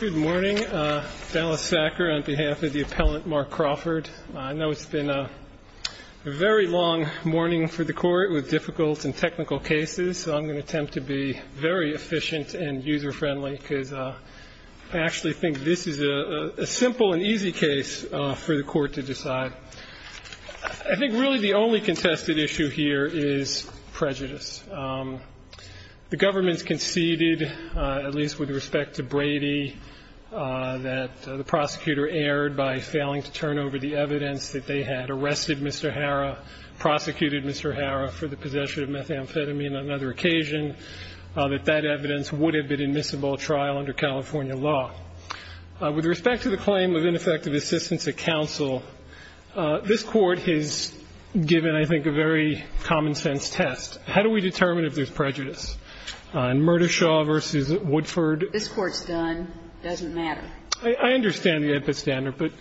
Good morning, Dallas Sacker on behalf of the appellant Mark Crawford. I know it's been a very long morning for the court with difficult and technical cases. So I'm going to attempt to be very efficient and user friendly because I actually think this is a simple and easy case for the court to decide. I think really the only contested issue here is prejudice. The government's conceded, at least with respect to Brady, that the prosecutor erred by failing to turn over the evidence that they had arrested Mr. Harrah, prosecuted Mr. Harrah for the possession of methamphetamine on another occasion, that that evidence would have been admissible trial under California law. With respect to the claim of ineffective assistance at counsel, this Court has given, I think, a very common-sense test. How do we determine if there's prejudice? In Murdashaw v. Woodford. This Court's done. It doesn't matter. I understand the epistandard, but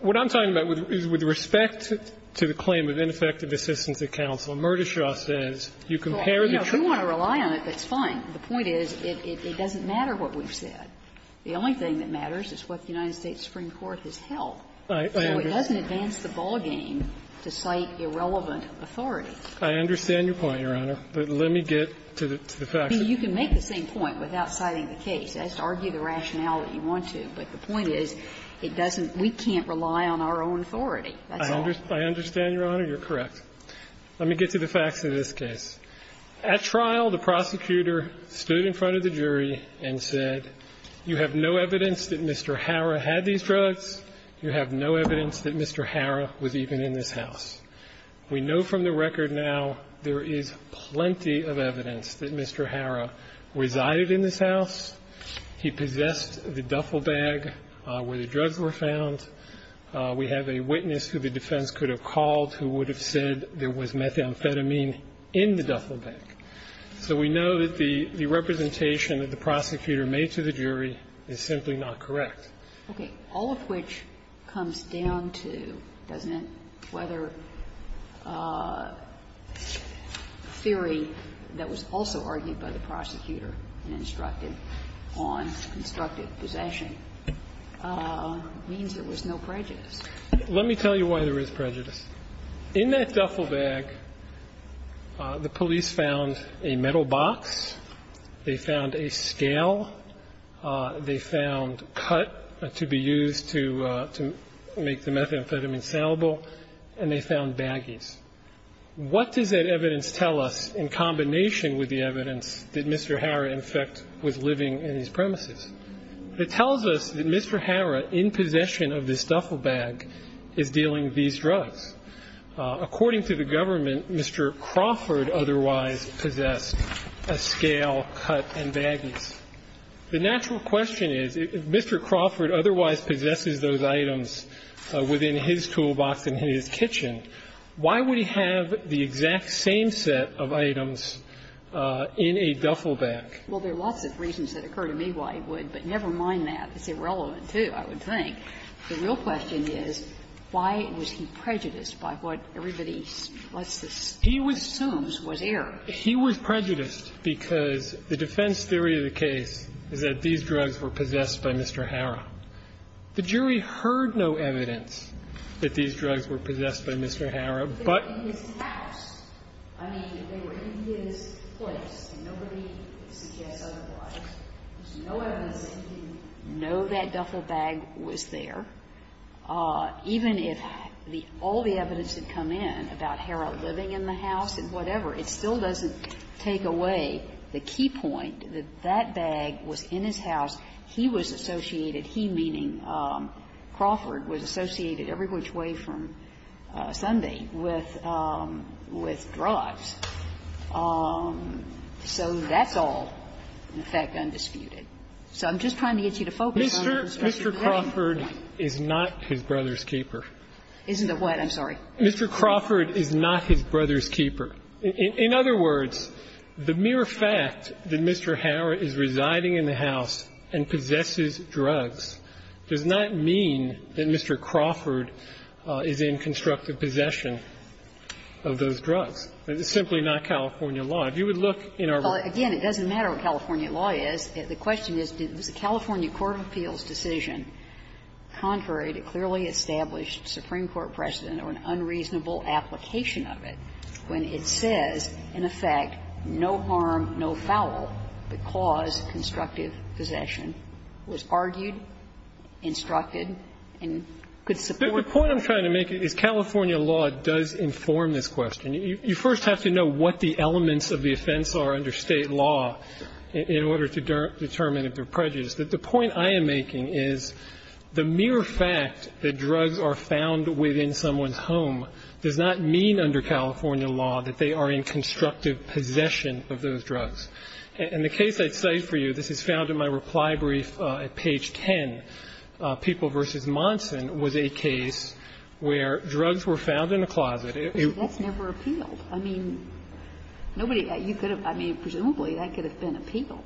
what I'm talking about is with respect to the claim of ineffective assistance at counsel, Murdashaw says you compare the two. Well, you know, if you want to rely on it, that's fine. The point is it doesn't matter what we've said. The only thing that matters is what the United States Supreme Court has held. I understand. But you can't advance the ballgame to cite irrelevant authority. I understand your point, Your Honor. But let me get to the facts. I mean, you can make the same point without citing the case. That's to argue the rationality you want to. But the point is it doesn't we can't rely on our own authority. That's all. I understand, Your Honor. You're correct. Let me get to the facts of this case. At trial, the prosecutor stood in front of the jury and said, you have no evidence that Mr. Harrah had these drugs. You have no evidence that Mr. Harrah was even in this house. We know from the record now there is plenty of evidence that Mr. Harrah resided in this house. He possessed the duffel bag where the drugs were found. We have a witness who the defense could have called who would have said there was methamphetamine in the duffel bag. So we know that the representation that the prosecutor made to the jury is simply not correct. Okay. All of which comes down to, doesn't it, whether theory that was also argued by the prosecutor and instructed on constructive possession means there was no prejudice. Let me tell you why there is prejudice. In that duffel bag, the police found a metal box. They found a scale. They found cut to be used to make the methamphetamine salable. And they found baggies. What does that evidence tell us in combination with the evidence that Mr. Harrah, in fact, was living in these premises? It tells us that Mr. Harrah, in possession of this duffel bag, is dealing these drugs. According to the government, Mr. Crawford otherwise possessed a scale, cut, and baggies. The natural question is, if Mr. Crawford otherwise possesses those items within his toolbox in his kitchen, why would he have the exact same set of items in a duffel bag? Well, there are lots of reasons that occur to me why he would, but never mind that. It's irrelevant, too, I would think. The real question is, why was he prejudiced by what everybody assumes was error? He was prejudiced because the defense theory of the case is that these drugs were possessed by Mr. Harrah. The jury heard no evidence that these drugs were possessed by Mr. Harrah, but his house. I mean, they were in his place, and nobody suggests otherwise. There's no evidence that he didn't know that duffel bag was there. Even if all the evidence had come in about Harrah living in the house and whatever, it still doesn't take away the key point that that bag was in his house. He was associated, he meaning Crawford, was associated every which way from Sunday with drugs. So that's all, in effect, undisputed. So I'm just trying to get you to focus on your perspective. Mr. Crawford is not his brother's keeper. Isn't it what? I'm sorry. Mr. Crawford is not his brother's keeper. In other words, the mere fact that Mr. Harrah is residing in the house and possesses drugs does not mean that Mr. Crawford is in constructive possession of those drugs. It's simply not California law. If you would look in our book. Well, again, it doesn't matter what California law is. The question is, was the California court of appeals decision contrary to clearly it says, in effect, no harm, no foul, but cause constructive possession. Was argued, instructed, and could support. The point I'm trying to make is California law does inform this question. You first have to know what the elements of the offense are under State law in order to determine if they're prejudiced. The point I am making is the mere fact that drugs are found within someone's house does not mean under California law that they are in constructive possession of those drugs. In the case I cite for you, this is found in my reply brief at page 10. People v. Monson was a case where drugs were found in a closet. That's never appealed. I mean, nobody, you could have, I mean, presumably that could have been appealed.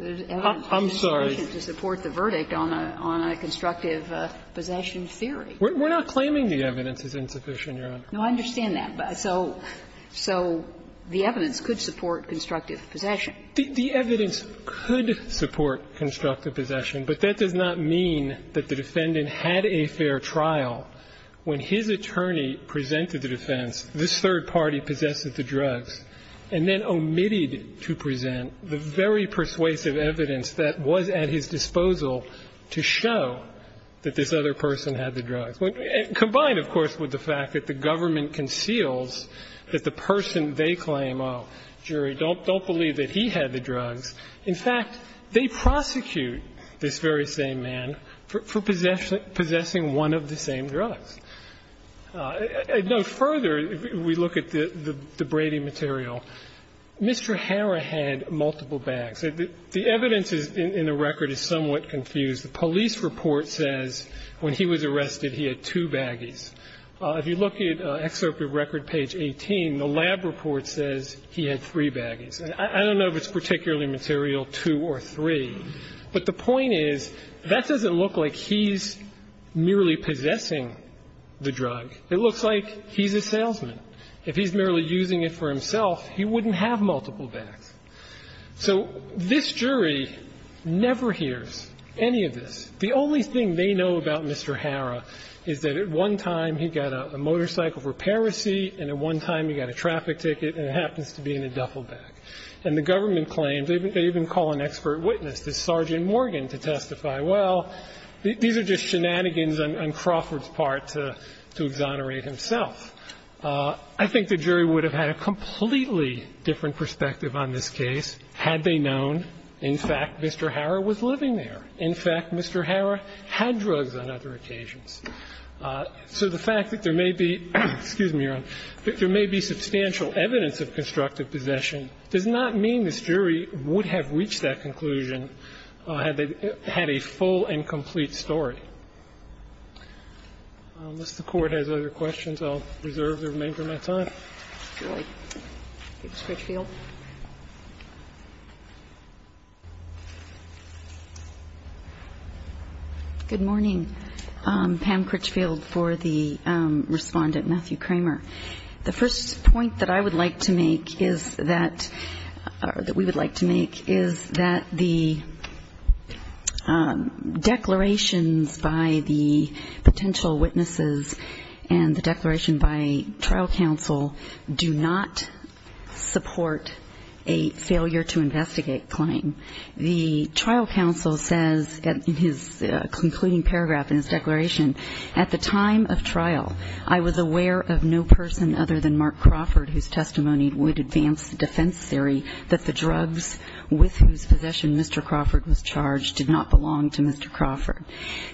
I'm sorry. It's insufficient to support the verdict on a constructive possession theory. We're not claiming the evidence is insufficient, Your Honor. No, I understand that. So the evidence could support constructive possession. The evidence could support constructive possession, but that does not mean that the defendant had a fair trial. When his attorney presented the defense, this third party possessed the drugs and then omitted to present the very persuasive evidence that was at his disposal to show that this other person had the drugs. Combined, of course, with the fact that the government conceals that the person they claim, oh, jury, don't believe that he had the drugs. In fact, they prosecute this very same man for possessing one of the same drugs. Further, if we look at the Brady material, Mr. Harrah had multiple bags. The evidence in the record is somewhat confused. The police report says when he was arrested he had two baggies. If you look at excerpt of record page 18, the lab report says he had three baggies. I don't know if it's particularly material two or three, but the point is that doesn't look like he's merely possessing the drug. It looks like he's a salesman. If he's merely using it for himself, he wouldn't have multiple bags. So this jury never hears any of this. The only thing they know about Mr. Harrah is that at one time he got a motorcycle for Paracy and at one time he got a traffic ticket and happens to be in a duffel bag. And the government claims, they even call an expert witness, this Sergeant Morgan, to testify, well, these are just shenanigans on Crawford's part to exonerate himself. I think the jury would have had a completely different perspective on this case had they known, in fact, Mr. Harrah was living there. In fact, Mr. Harrah had drugs on other occasions. So the fact that there may be, excuse me, Your Honor, that there may be substantial evidence of constructive possession does not mean this jury would have reached that conclusion had they had a full and complete story. Unless the Court has other questions, I'll reserve the remainder of my time. Ms. Critchfield. Good morning. Pam Critchfield for the Respondent, Matthew Kramer. The first point that I would like to make is that, or that we would like to make, is that the declarations by the potential witnesses and the declaration by trial counsel do not support a failure to investigate Cline. The trial counsel says in his concluding paragraph in his declaration, at the time of trial, I was aware of no person other than Mark Crawford, whose testimony would advance defense theory that the drugs with whose possession Mr. Crawford was charged did not belong to Mr. Crawford.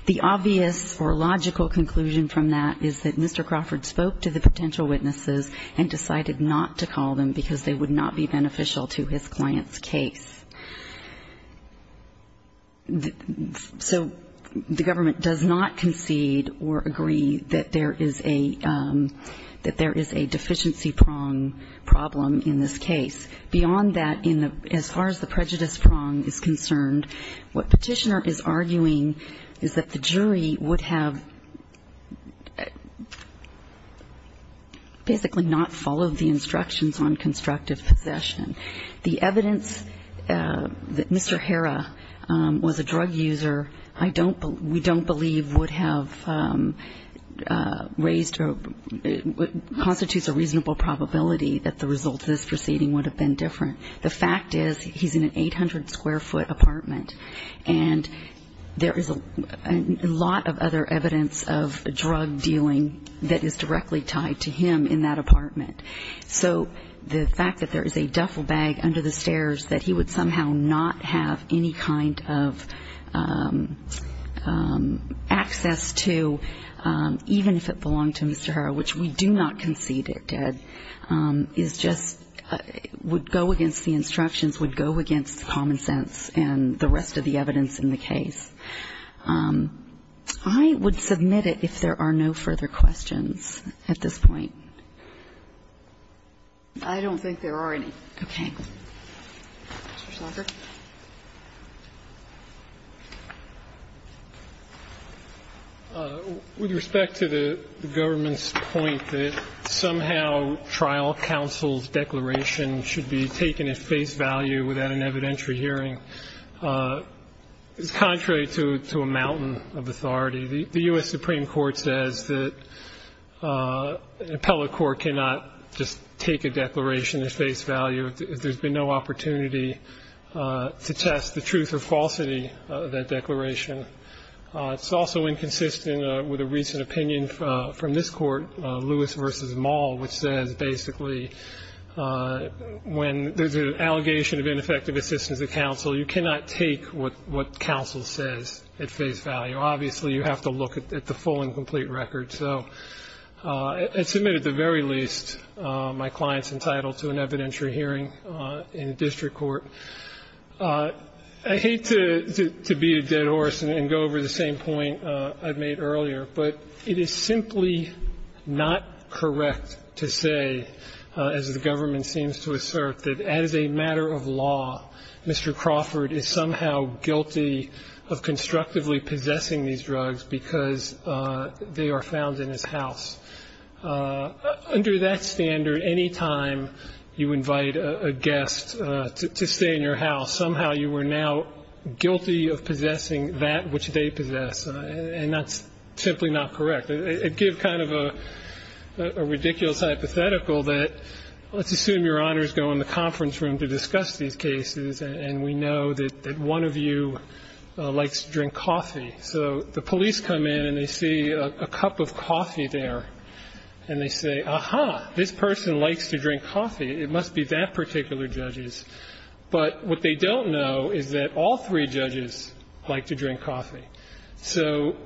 The obvious or logical conclusion from that is that Mr. Crawford spoke to the potential witnesses and decided not to call them because they would not be beneficial to his client's case. So the government does not concede or agree that there is a deficiency prong problem in this case. Beyond that, as far as the prejudice prong is concerned, what Petitioner is arguing is that the jury would have basically not followed the instructions on constructive possession. The evidence that Mr. Herra was a drug user, I don't believe, we don't believe would have raised or constitutes a reasonable probability that the results of this proceeding would have been different. The fact is he's in an 800-square-foot apartment, and there is a lot of other evidence of drug dealing that is directly tied to him in that apartment. So the fact that there is a duffel bag under the stairs, that he would somehow not have any kind of access to, even if it belonged to Mr. Herra, which we do not concede it did, is just go against the instructions, would go against common sense and the rest of the evidence in the case. I would submit it if there are no further questions at this point. I don't think there are any. Okay. Thank you. Mr. Schlager. With respect to the government's point that somehow trial counsel's declaration should be taken at face value without an evidentiary hearing, it's contrary to a mountain of authority. The U.S. Supreme Court says that an appellate court cannot just take a declaration at face value if there's been no opportunity to test the truth or falsity of that declaration. It's also inconsistent with a recent opinion from this Court, Lewis v. Maul, which says basically when there's an allegation of ineffective assistance of counsel, you cannot take what counsel says at face value. Obviously, you have to look at the full and complete record. So I'd submit at the very least my client's entitled to an evidentiary hearing in a district court. I hate to beat a dead horse and go over the same point I made earlier, but it is simply not correct to say, as the government seems to assert, that as a matter of law, Mr. Crawford is somehow guilty of constructively possessing these drugs because they are found in his house. Under that standard, any time you invite a guest to stay in your house, somehow you were now guilty of possessing that which they possess, and that's simply not correct. It gives kind of a ridiculous hypothetical that let's assume Your Honors go in the conference room to discuss these cases, and we know that one of you likes to drink coffee. So the police come in and they see a cup of coffee there, and they say, aha, this person likes to drink coffee. It must be that particular judge's. But what they don't know is that all three judges like to drink coffee. So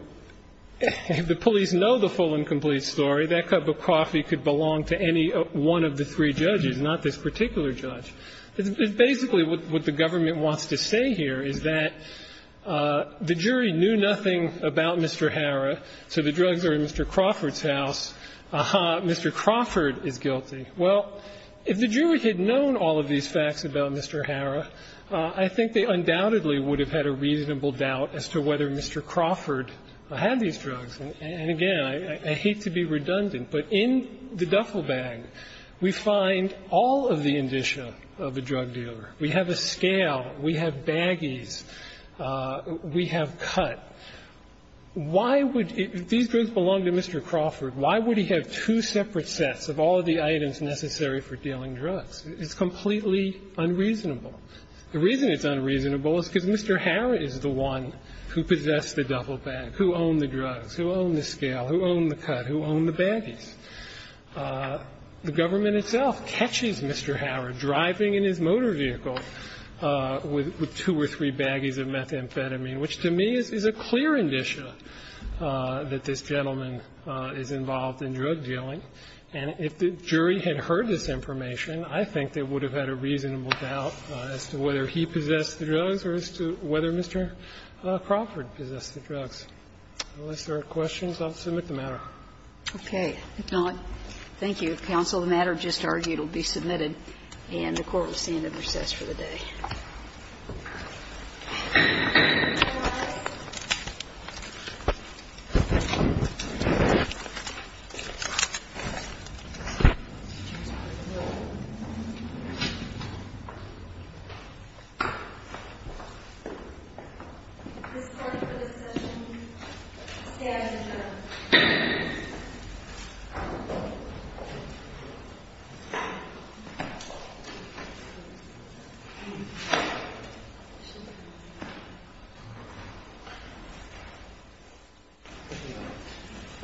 if the police know the full and complete story, that cup of coffee could belong to any one of the three judges, not this particular judge. It's basically what the government wants to say here, is that the jury knew nothing about Mr. Harra, so the drugs are in Mr. Crawford's house. Aha, Mr. Crawford is guilty. Well, if the jury had known all of these facts about Mr. Harra, I think they undoubtedly would have had a reasonable doubt as to whether Mr. Crawford had these drugs. And again, I hate to be redundant, but in the duffel bag, we find all of the indicia of a drug dealer. We have a scale. We have baggies. We have cut. Why would these drugs belong to Mr. Crawford? Why would he have two separate sets of all the items necessary for dealing drugs? It's completely unreasonable. The reason it's unreasonable is because Mr. Harra is the one who possessed the duffel bag, who owned the drugs, who owned the scale, who owned the cut, who owned the baggies. The government itself catches Mr. Harra driving in his motor vehicle with two or three baggies of methamphetamine, which to me is a clear indicia that this gentleman is involved in drug dealing. And if the jury had heard this information, I think they would have had a reasonable doubt as to whether he possessed the drugs or as to whether Mr. Crawford possessed the drugs. Unless there are questions, I'll submit the matter. Okay. If not, thank you, counsel. The matter just argued will be submitted. And the Court will stand at recess for the day. Thank you. Thank you.